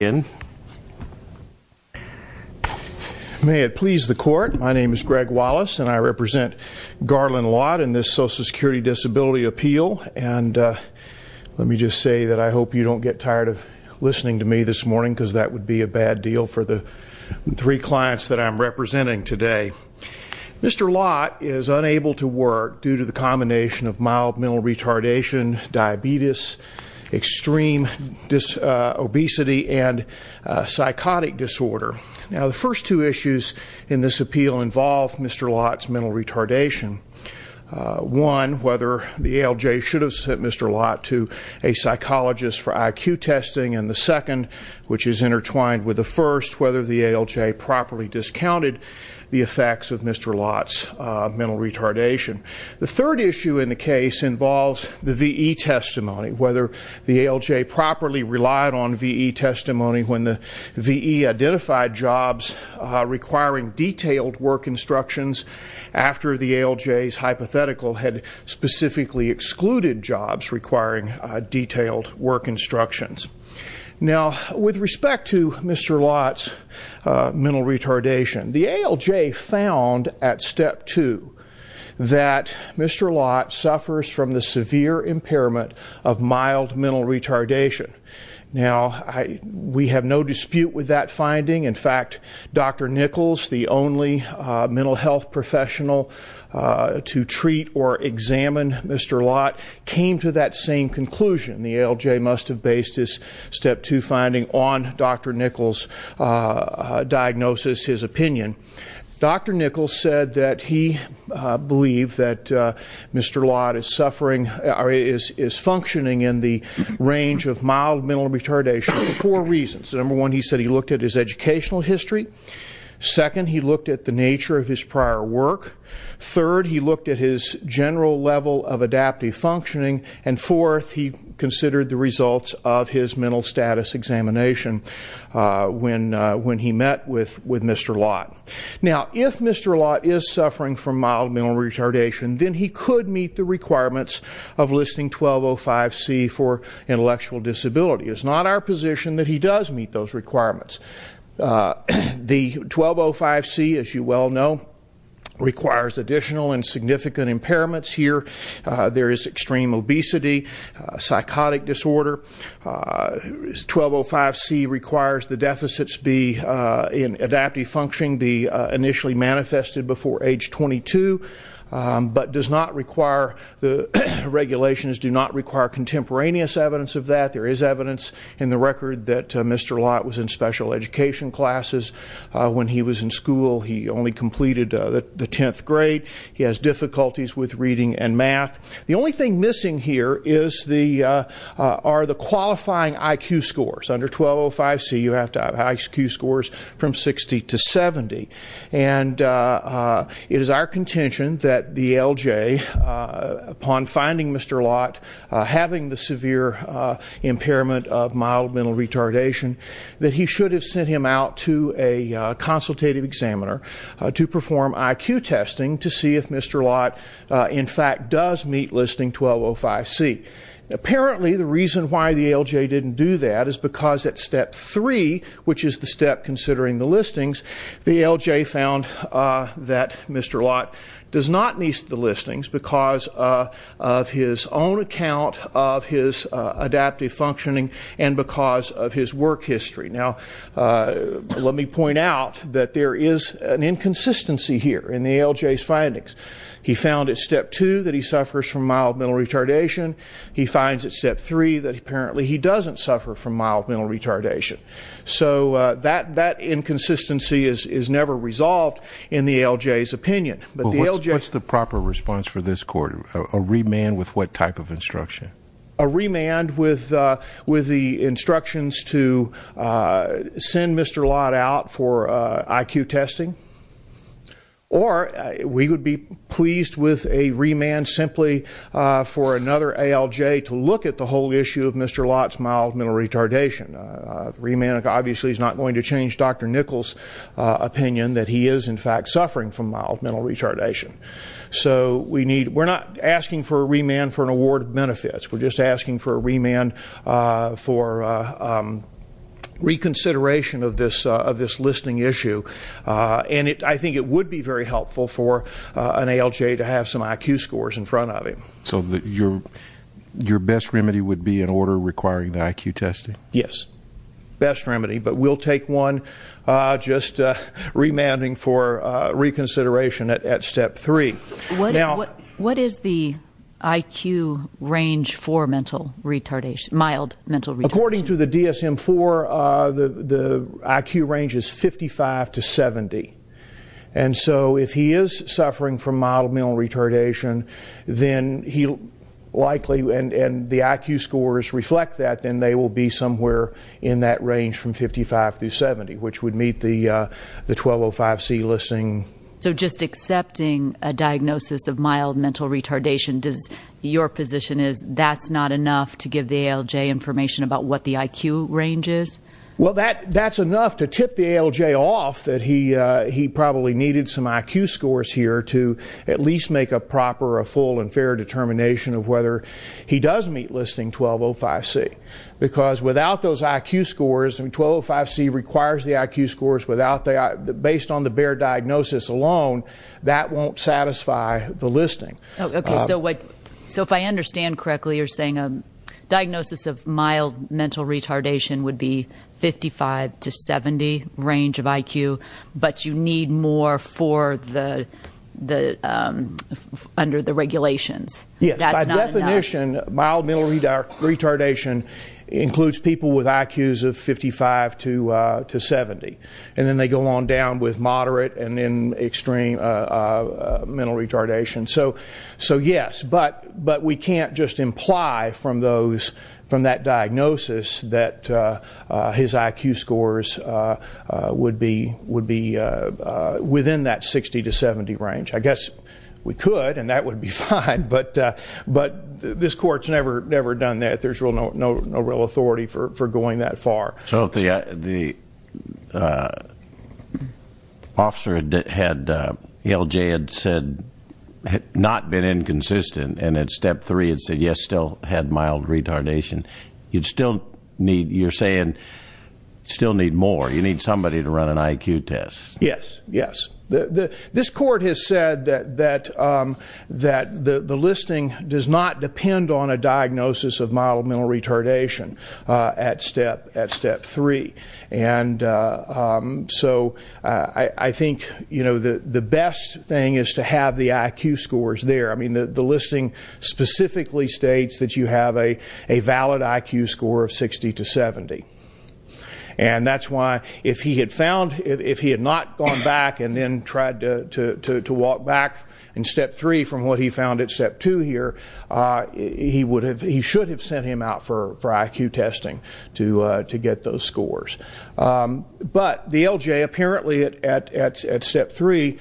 May it please the Court, my name is Greg Wallace and I represent Garland Lott in this Social Security Disability Appeal and let me just say that I hope you don't get tired of listening to me this morning because that would be a bad deal for the three clients that I'm representing today. Mr. Lott is unable to work due to the combination of mild mental retardation, diabetes, extreme obesity, and psychotic disorder. Now the first two issues in this appeal involve Mr. Lott's mental retardation, one whether the ALJ should have sent Mr. Lott to a psychologist for IQ testing and the second, which is intertwined with the first, whether the ALJ properly discounted the effects of Mr. Lott's mental retardation. The third issue in the case involves the V.E. testimony, whether the ALJ properly relied on V.E. testimony when the V.E. identified jobs requiring detailed work instructions after the ALJ's hypothetical had specifically excluded jobs requiring detailed work instructions. Now with respect to Mr. Lott's mental retardation, the ALJ found at step two that Mr. Lott suffers from the severe impairment of mild mental retardation. Now we have no dispute with that finding, in fact Dr. Nichols, the only mental health professional to treat or examine Mr. Lott, came to that same conclusion, the ALJ must have based his step two finding on Dr. Nichols' diagnosis, his opinion. Dr. Nichols said that he believed that Mr. Lott is suffering, is functioning in the range of mild mental retardation for four reasons. Number one, he said he looked at his educational history. Second, he looked at the nature of his prior work. Third, he looked at his general level of adaptive functioning. And fourth, he considered the results of his mental status examination when he met with Mr. Lott. Now if Mr. Lott is suffering from mild mental retardation, then he could meet the requirements of listing 1205C for intellectual disability. It's not our position that he does meet those requirements. The 1205C, as you well know, requires additional and significant impairments here. There is extreme obesity, psychotic disorder. 1205C requires the deficits be in adaptive function, be initially manifested before age 22, but does not require, the regulations do not require contemporaneous evidence of that. There is evidence in the record that Mr. Lott was in special education classes. When he was in school, he only completed the tenth grade. He has difficulties with reading and math. The only thing missing here are the qualifying IQ scores. Under 1205C, you have to have IQ scores from 60 to 70. And it is our contention that the LJ, upon finding Mr. Lott, having the severe impairment of mild mental retardation, that he should have sent him out to a consultative examiner to perform IQ testing, to see if Mr. Lott, in fact, does meet listing 1205C. Apparently, the reason why the LJ didn't do that is because at step three, which is the step considering the listings, the LJ found that Mr. Lott does not meet the listings because of his own account of his adaptive functioning and because of his work history. Now, let me point out that there is an inconsistency here in the LJ's findings. He found at step two that he suffers from mild mental retardation. He finds at step three that apparently he doesn't suffer from mild mental retardation. So that inconsistency is never resolved in the LJ's opinion. But the LJ- What's the proper response for this court? A remand with what type of instruction? A remand with the instructions to send Mr. Lott out for IQ testing. Or we would be pleased with a remand simply for another ALJ to look at the whole issue of Mr. Lott's mild mental retardation. Remand obviously is not going to change Dr. Nichols' opinion that he is, in fact, suffering from mild mental retardation. So we're not asking for a remand for an award of benefits. We're just asking for a remand for reconsideration of this listing issue. And I think it would be very helpful for an ALJ to have some IQ scores in front of him. So your best remedy would be an order requiring the IQ testing? Yes, best remedy. But we'll take one just remanding for reconsideration at step three. Now- What is the IQ range for mild mental retardation? According to the DSM-IV, the IQ range is 55 to 70. And so if he is suffering from mild mental retardation, then he likely, and the IQ scores reflect that, then they will be somewhere in that range from 55 to 70, which would meet the 1205C listing. So just accepting a diagnosis of mild mental retardation, does your position is that's not enough to give the ALJ information about what the IQ range is? Well, that's enough to tip the ALJ off that he probably needed some IQ scores here to at least make a proper, a full and fair determination of whether he does meet listing 1205C. Because without those IQ scores, and 1205C requires the IQ scores, based on the bare diagnosis alone, that won't satisfy the listing. So if I understand correctly, you're saying a diagnosis of mild mental retardation would be under the regulations. Yes, by definition, mild mental retardation includes people with IQs of 55 to 70. And then they go on down with moderate and then extreme mental retardation. So yes, but we can't just imply from that diagnosis that his IQ scores would be within that 60 to 70 range. I guess we could, and that would be fine. But this court's never done that. There's no real authority for going that far. So the officer had, ALJ had said, had not been inconsistent. And at step three, it said, yes, still had mild retardation. You'd still need, you're saying, still need more. You need somebody to run an IQ test. Yes, yes. This court has said that the listing does not depend on a diagnosis of mild mental retardation at step three. And so I think the best thing is to have the IQ scores there. I mean, the listing specifically states that you have a valid IQ score of 60 to 70. And that's why if he had found, if he had not gone back and then tried to walk back in step three from what he found at step two here, he would have, he should have sent him out for IQ testing to get those scores. But the ALJ apparently at step three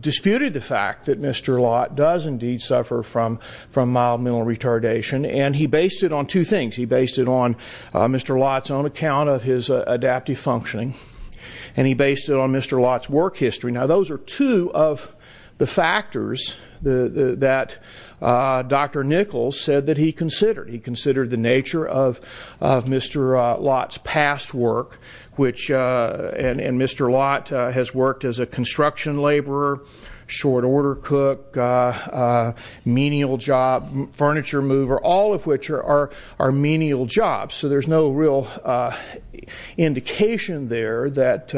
disputed the fact that Mr. Lott does indeed suffer from mild mental retardation. And he based it on two things. He based it on Mr. Lott's own account of his adaptive functioning. And he based it on Mr. Lott's work history. Now, those are two of the factors that Dr. Nichols said that he considered. He considered the nature of Mr. Lott's past work, and Mr. Lott has worked as a construction laborer, short order cook, menial job, furniture mover, all of which are menial jobs. So there's no real indication there that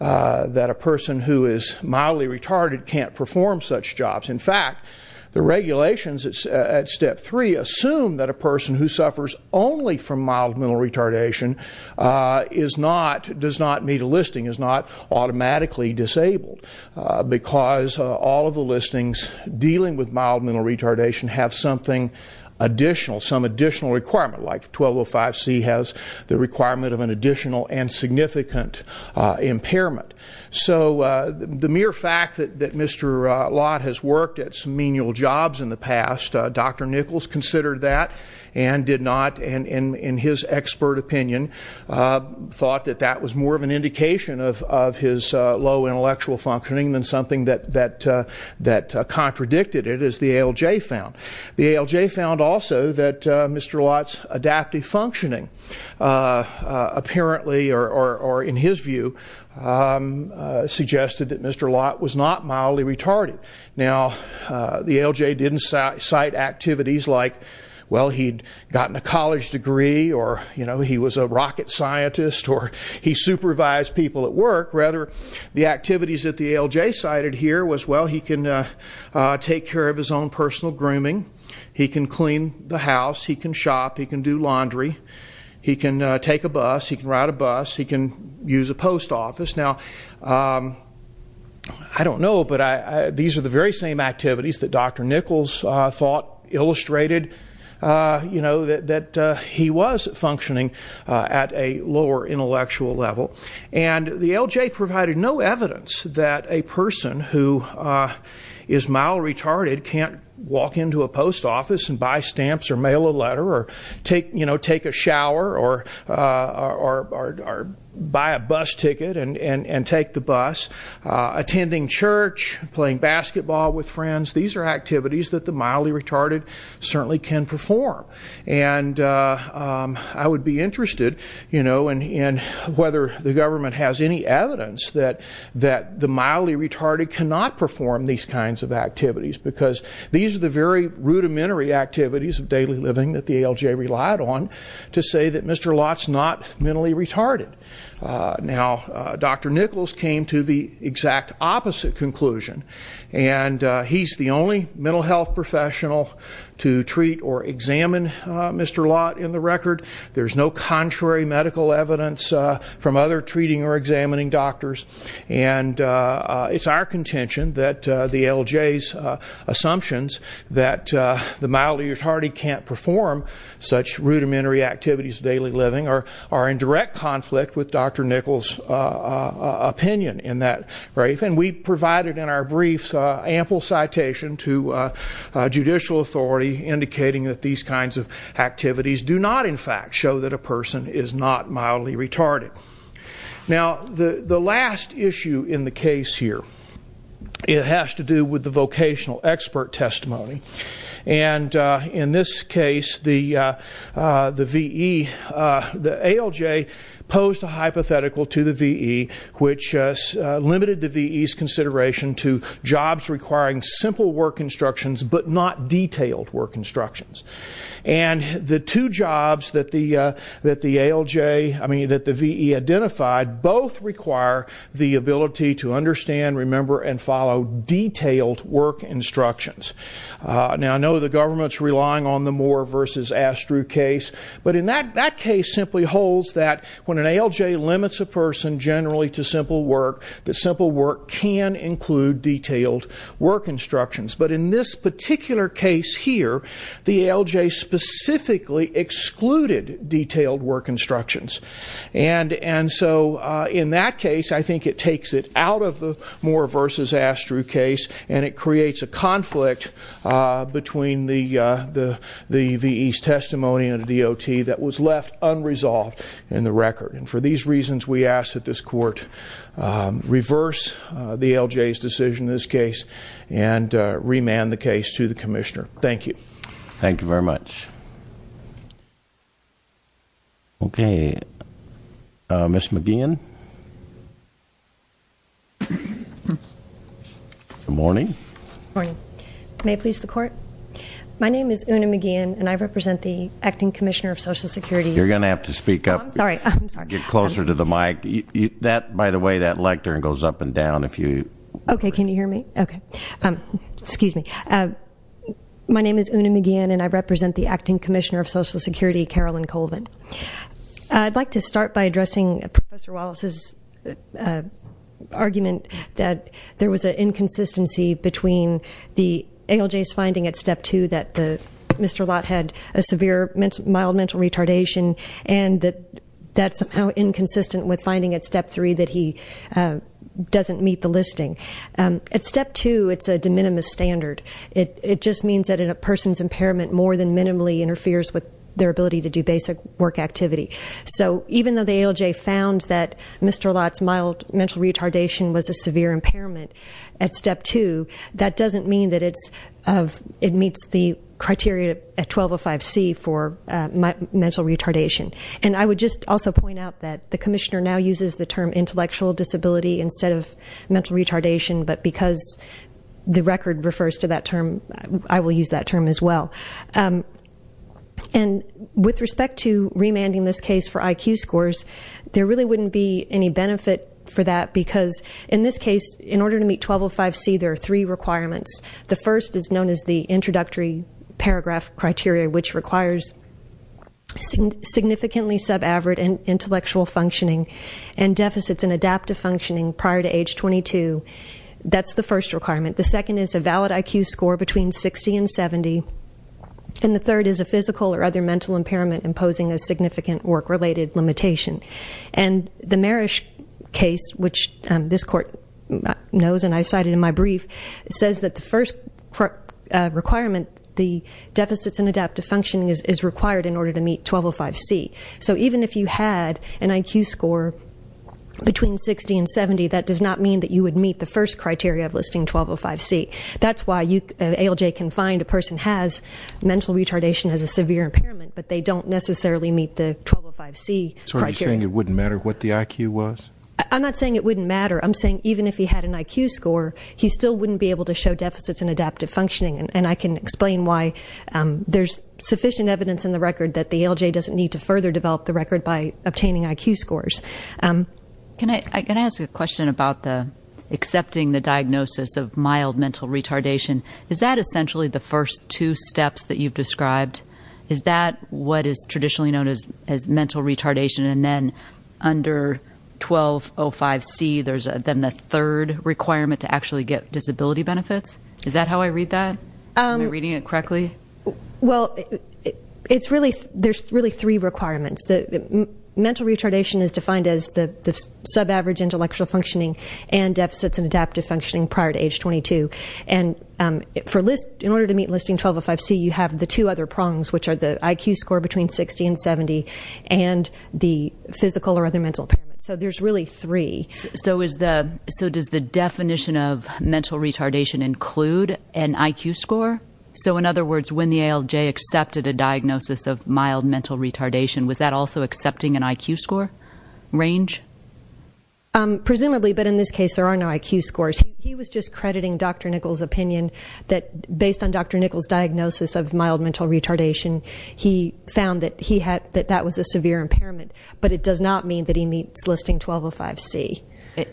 a person who is mildly retarded can't perform such jobs. In fact, the regulations at step three assume that a person who suffers only from mild mental retardation is not, does not meet a listing, is not automatically disabled. Because all of the listings dealing with mild mental retardation have something additional, some additional requirement, like 1205C has the requirement of an additional and significant impairment. So the mere fact that Mr. Lott has worked at some menial jobs in the past, Dr. Nichols considered that and did not, in his expert opinion, thought that that was more of an indication of his low intellectual functioning than something that contradicted it, as the ALJ found. The ALJ found also that Mr. Lott's adaptive functioning apparently, or in his view, suggested that Mr. Lott was not mildly retarded. Now, the ALJ didn't cite activities like, well, he'd gotten a college degree, or he was a rocket scientist, or he supervised people at work. Rather, the activities that the ALJ cited here was, well, he can take care of his own personal grooming, he can clean the house, he can shop, he can do laundry, he can take a bus, he can ride a bus, he can use a post office. Now, I don't know, but these are the very same activities that Dr. Nichols thought illustrated that he was functioning at a lower intellectual level. And the ALJ provided no evidence that a person who is mildly retarded can't walk into a post office and buy stamps or mail a letter or take a shower or buy a bus ticket and take the bus, attending church, playing basketball with friends. These are activities that the mildly retarded certainly can perform. And I would be interested in whether the government has any evidence that the mildly retarded cannot perform these kinds of activities. Because these are the very rudimentary activities of daily living that the ALJ relied on to say that Mr. Lott's not mentally retarded. Now, Dr. Nichols came to the exact opposite conclusion. And he's the only mental health professional to treat or examine Mr. Lott in the record. There's no contrary medical evidence from other treating or examining doctors. And it's our contention that the ALJ's assumptions that the mildly retarded can't perform such rudimentary activities of daily living are in direct conflict with Dr. Nichols' opinion in that brief. And we provided in our briefs ample citation to judicial authority indicating that these kinds of activities do not, in fact, show that a person is not mildly retarded. Now, the last issue in the case here, it has to do with the vocational expert testimony. And in this case, the ALJ posed a hypothetical to the VE which limited the VE's consideration to jobs requiring simple work instructions but not detailed work instructions. And the two jobs that the VE identified both require the ability to understand, remember, and follow detailed work instructions. Now, I know the government's relying on the Moore versus Astru case. But in that case simply holds that when an ALJ limits a person generally to simple work, the simple work can include detailed work instructions. But in this particular case here, the ALJ specifically excluded detailed work instructions. And so in that case, I think it takes it out of the Moore versus Astru case, and it creates a conflict between the VE's testimony and the DOT that was left unresolved in the record. And for these reasons, we ask that this court reverse the ALJ's decision in this case and remand the case to the commissioner. Thank you. Thank you very much. Okay, Ms. McGeehan? Good morning. Morning. May it please the court? My name is Una McGeehan, and I represent the acting commissioner of Social Security. You're going to have to speak up. I'm sorry. Get closer to the mic. By the way, that lectern goes up and down if you- Okay, can you hear me? Okay. Excuse me. My name is Una McGeehan, and I represent the acting commissioner of Social Security, Carolyn Colvin. I'd like to start by addressing Professor Wallace's argument that there was an inconsistency between the ALJ's finding at step two that Mr. Lott had a severe mild mental retardation, and that that's somehow inconsistent with finding at step three that he doesn't meet the listing. At step two, it's a de minimis standard. It just means that a person's impairment more than minimally interferes with their ability to do basic work activity. So even though the ALJ found that Mr. Lott's mild mental retardation was a severe impairment at step two, that doesn't mean that it meets the criteria at 1205C for mental retardation. And I would just also point out that the commissioner now uses the term intellectual disability instead of mental retardation, but because the record refers to that term, I will use that term as well. And with respect to remanding this case for IQ scores, there really wouldn't be any benefit for that because in this case, in order to meet 1205C, there are three requirements. The first is known as the introductory paragraph criteria, which requires significantly sub-average intellectual functioning and deficits in adaptive functioning prior to age 22. That's the first requirement. The second is a valid IQ score between 60 and 70. And the third is a physical or other mental impairment imposing a significant work-related limitation. And the Marish case, which this court knows and I cited in my brief, says that the first requirement, the deficits in adaptive functioning is required in order to meet 1205C. So even if you had an IQ score between 60 and 70, that does not mean that you would meet the first criteria of listing 1205C. That's why ALJ can find a person has mental retardation, has a severe impairment, but they don't necessarily meet the 1205C criteria. So are you saying it wouldn't matter what the IQ was? I'm not saying it wouldn't matter. I'm saying even if he had an IQ score, he still wouldn't be able to show deficits in adaptive functioning. And I can explain why there's sufficient evidence in the record that the ALJ doesn't need to further develop the record by obtaining IQ scores. Can I ask a question about accepting the diagnosis of mild mental retardation? Is that essentially the first two steps that you've described? Is that what is traditionally known as mental retardation and then under 1205C, there's then the third requirement to actually get disability benefits? Is that how I read that? Am I reading it correctly? Well, there's really three requirements. Mental retardation is defined as the sub-average intellectual functioning and deficits in adaptive functioning prior to age 22. And in order to meet listing 1205C, you have the two other prongs, which are the IQ score between 60 and 70 and the physical or other mental impairment. So there's really three. So does the definition of mental retardation include an IQ score? So in other words, when the ALJ accepted a diagnosis of mild mental retardation, was that also accepting an IQ score range? Presumably, but in this case, there are no IQ scores. He was just crediting Dr. Nichols' opinion that based on Dr. Nichols' diagnosis of mild mental retardation, he found that that was a severe impairment, but it does not mean that he meets listing 1205C.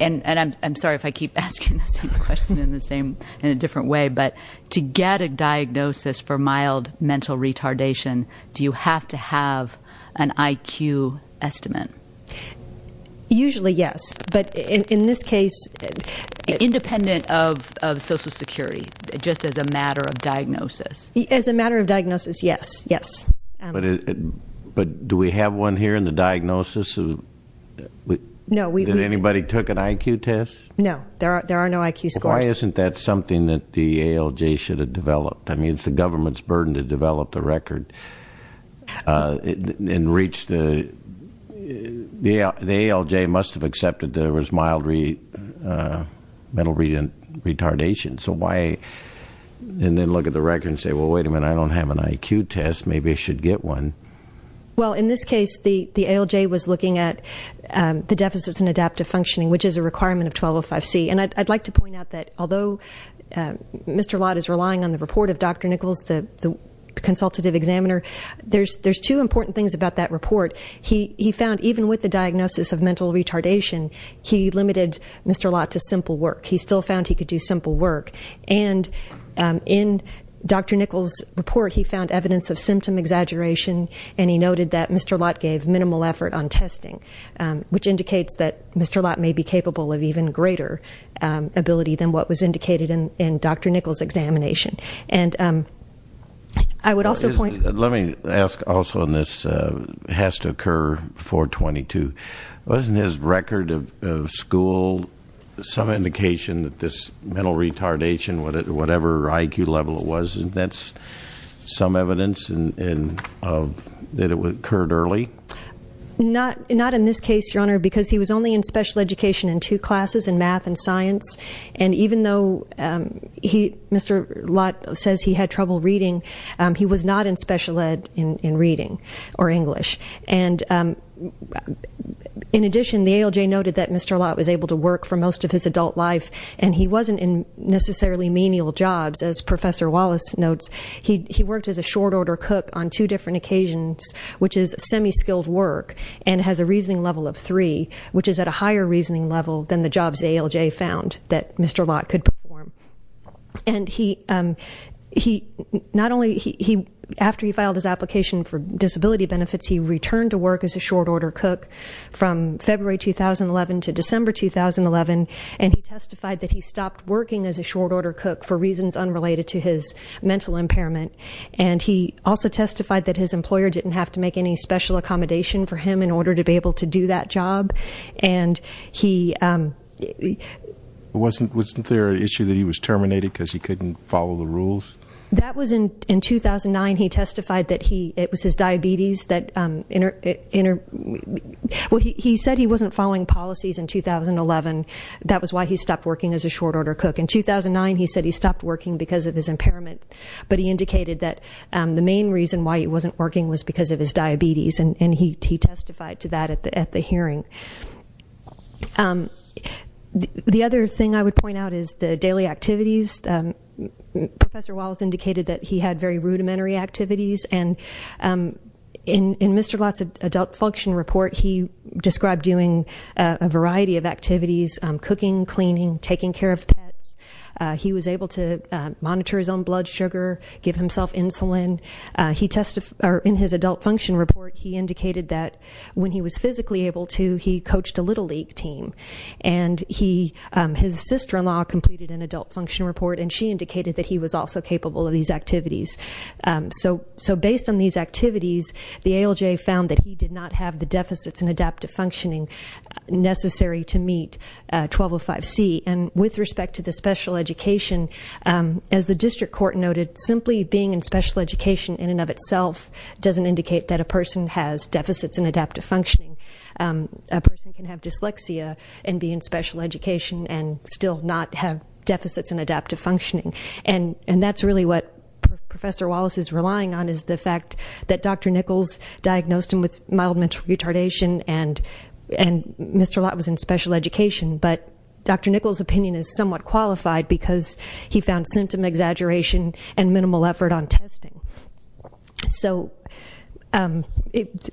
And I'm sorry if I keep asking the same question in a different way, but to get a diagnosis for mild mental retardation, do you have to have an IQ estimate? Usually, yes. But in this case... Independent of Social Security, just as a matter of diagnosis. As a matter of diagnosis, yes, yes. But do we have one here in the diagnosis? No, we- Did anybody took an IQ test? No, there are no IQ scores. Why isn't that something that the ALJ should have developed? I mean, it's the government's burden to develop the record and reach the... The ALJ must have accepted there was mild mental retardation. So why, and then look at the record and say, well, wait a minute, I don't have an IQ test, maybe I should get one. Well, in this case, the ALJ was looking at the deficits in adaptive functioning, which is a requirement of 1205C. And I'd like to point out that although Mr. Lott is relying on the report of Dr. Nichols, the consultative examiner, there's two important things about that report. He found even with the diagnosis of mental retardation, he limited Mr. Lott to simple work. He still found he could do simple work. And in Dr. Nichols' report, he found evidence of symptom exaggeration, and he noted that Mr. Lott gave minimal effort on testing, which indicates that Mr. Lott may be capable of even greater ability than what was indicated in Dr. Nichols' examination. And I would also point- Let me ask also on this, it has to occur before 22. Wasn't his record of school some indication that this mental retardation, whatever IQ level it was, that's some evidence that it occurred early? Not in this case, Your Honor, because he was only in special education in two classes, in math and science. And even though Mr. Lott says he had trouble reading, he was not in special ed in reading or English. And in addition, the ALJ noted that Mr. Lott was able to work for most of his adult life, and he wasn't in necessarily menial jobs, as Professor Wallace notes. He worked as a short order cook on two different occasions, which is semi-skilled work, and has a reasoning level of three, which is at a higher reasoning level than the jobs the ALJ found that Mr. Lott could perform. And he, not only, after he filed his application for disability benefits, he returned to work as a short order cook from February 2011 to December 2011, and he testified that he stopped working as a short order cook for reasons unrelated to his mental impairment. And he also testified that his employer didn't have to make any special accommodation for him in order to be able to do that job. And he... Wasn't there an issue that he was terminated because he couldn't follow the rules? That was in 2009. He testified that it was his diabetes that... Well, he said he wasn't following policies in 2011. That was why he stopped working as a short order cook. In 2009, he said he stopped working because of his impairment, but he indicated that the main reason why he wasn't working was because of his diabetes, and he testified to that at the hearing. The other thing I would point out is the daily activities. Professor Wallace indicated that he had very rudimentary activities. And in Mr. Lott's adult function report, he described doing a variety of activities, cooking, cleaning, taking care of pets. He was able to monitor his own blood sugar, give himself insulin. He testified in his adult function report. He indicated that when he was physically able to, he coached a Little League team. And his sister-in-law completed an adult function report, and she indicated that he was also capable of these activities. So based on these activities, the ALJ found that he did not have the deficits in adaptive functioning necessary to meet 1205C. And with respect to the special education, as the district court noted, simply being special education in and of itself doesn't indicate that a person has deficits in adaptive functioning. A person can have dyslexia and be in special education and still not have deficits in adaptive functioning. And that's really what Professor Wallace is relying on, is the fact that Dr. Nichols diagnosed him with mild mental retardation, and Mr. Lott was in special education. But Dr. Nichols' opinion is somewhat qualified because he found symptom exaggeration and testing. So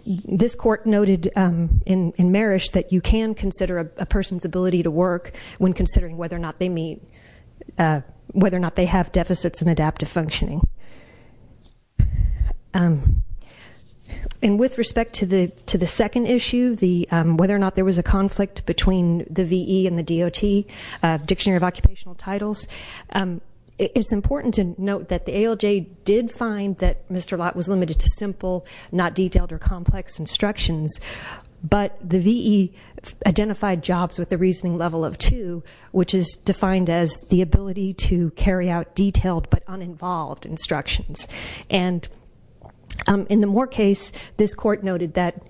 this court noted in Marish that you can consider a person's ability to work when considering whether or not they meet, whether or not they have deficits in adaptive functioning. And with respect to the second issue, whether or not there was a conflict between the VE and the DOT, Dictionary of Occupational Titles. It's important to note that the ALJ did find that Mr. Lott was limited to simple, not detailed or complex instructions. But the VE identified jobs with a reasoning level of two, which is defined as the ability to carry out detailed but uninvolved instructions. And in the Moore case, this court noted that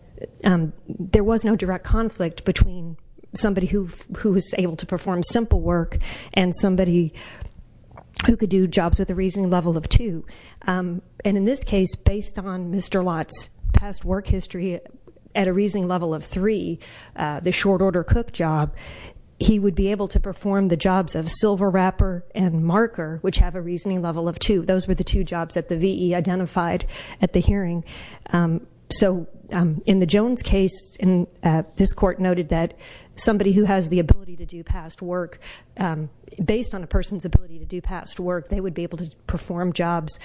there was no direct conflict between somebody who was able to perform simple work and somebody who could do jobs with a reasoning level of two. And in this case, based on Mr. Lott's past work history at a reasoning level of three, the short order cook job, he would be able to perform the jobs of silver wrapper and marker, which have a reasoning level of two. Those were the two jobs that the VE identified at the hearing. So in the Jones case, this court noted that somebody who has the ability to do past work, based on a person's ability to do past work, they would be able to perform jobs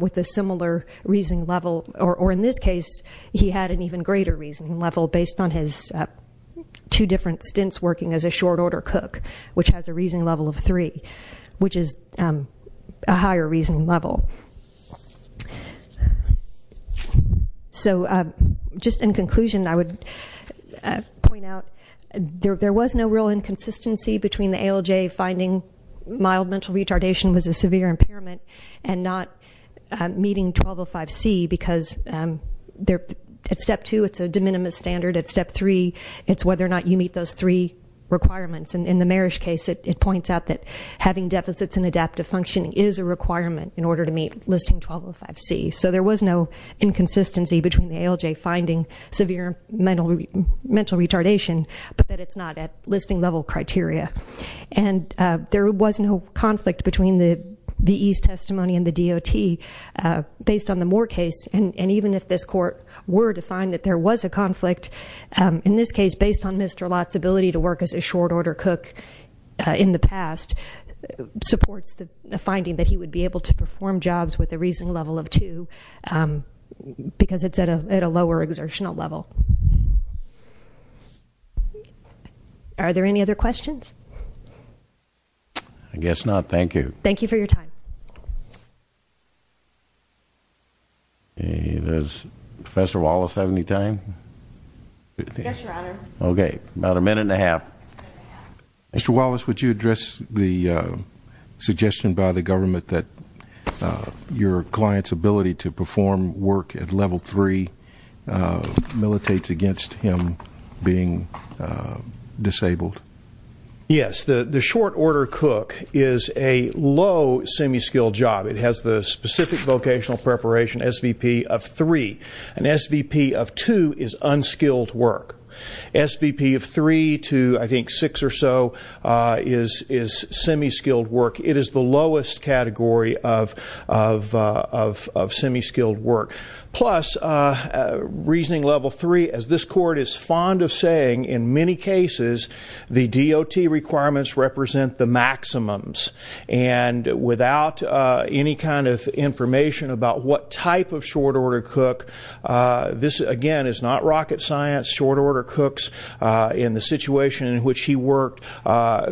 with a similar reasoning level. Or in this case, he had an even greater reasoning level based on his two different stints working as a short order cook, which has a reasoning level of three, which is a higher reasoning level. So just in conclusion, I would point out, there was no real inconsistency between the ALJ finding mild mental retardation was a severe impairment and not meeting 1205C. Because at step two, it's a de minimis standard. At step three, it's whether or not you meet those three requirements. And in the Marish case, it points out that having deficits in adaptive functioning is a requirement in order to meet listing 1205C. So there was no inconsistency between the ALJ finding severe mental retardation, but that it's not at listing level criteria. And there was no conflict between the VE's testimony and the DOT based on the Moore case. And even if this court were to find that there was a conflict, in this case, based on Mr. Lott's ability to work as a short order cook in the past, supports the be able to perform jobs with a reasoning level of two, because it's at a lower exertional level. Are there any other questions? I guess not, thank you. Thank you for your time. Does Professor Wallace have any time? Yes, your honor. Okay, about a minute and a half. Mr. Wallace, would you address the suggestion by the government that your client's ability to perform work at level three militates against him being disabled? Yes, the short order cook is a low semi-skilled job. It has the specific vocational preparation SVP of three. An SVP of two is unskilled work. SVP of three to, I think, six or so is semi-skilled work. It is the lowest category of semi-skilled work. Plus, reasoning level three, as this court is fond of saying, in many cases, the DOT requirements represent the maximums. And without any kind of information about what type of short order cook, this, again, is not rocket science. Short order cooks, in the situation in which he worked,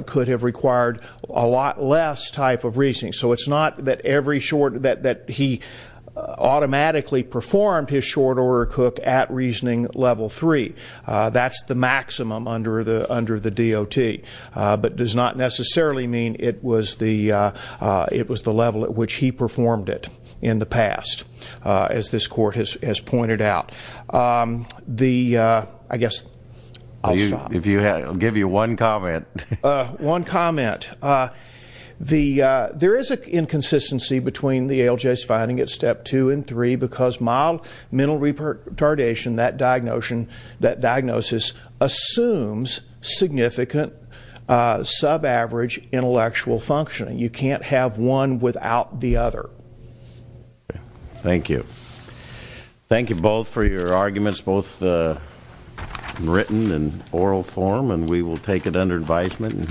could have required a lot less type of reasoning. So it's not that every short, that he automatically performed his short order cook at reasoning level three. That's the maximum under the DOT, but does not necessarily mean it was the level at which he performed it in the past. As this court has pointed out. The, I guess, I'll stop. If you had, I'll give you one comment. One comment. The, there is a inconsistency between the ALJ's finding at step two and three. Because mild mental retardation, that diagnosis assumes significant sub-average intellectual functioning. You can't have one without the other. Thank you. Thank you both for your arguments, both written and oral form. And we will take it under advisement.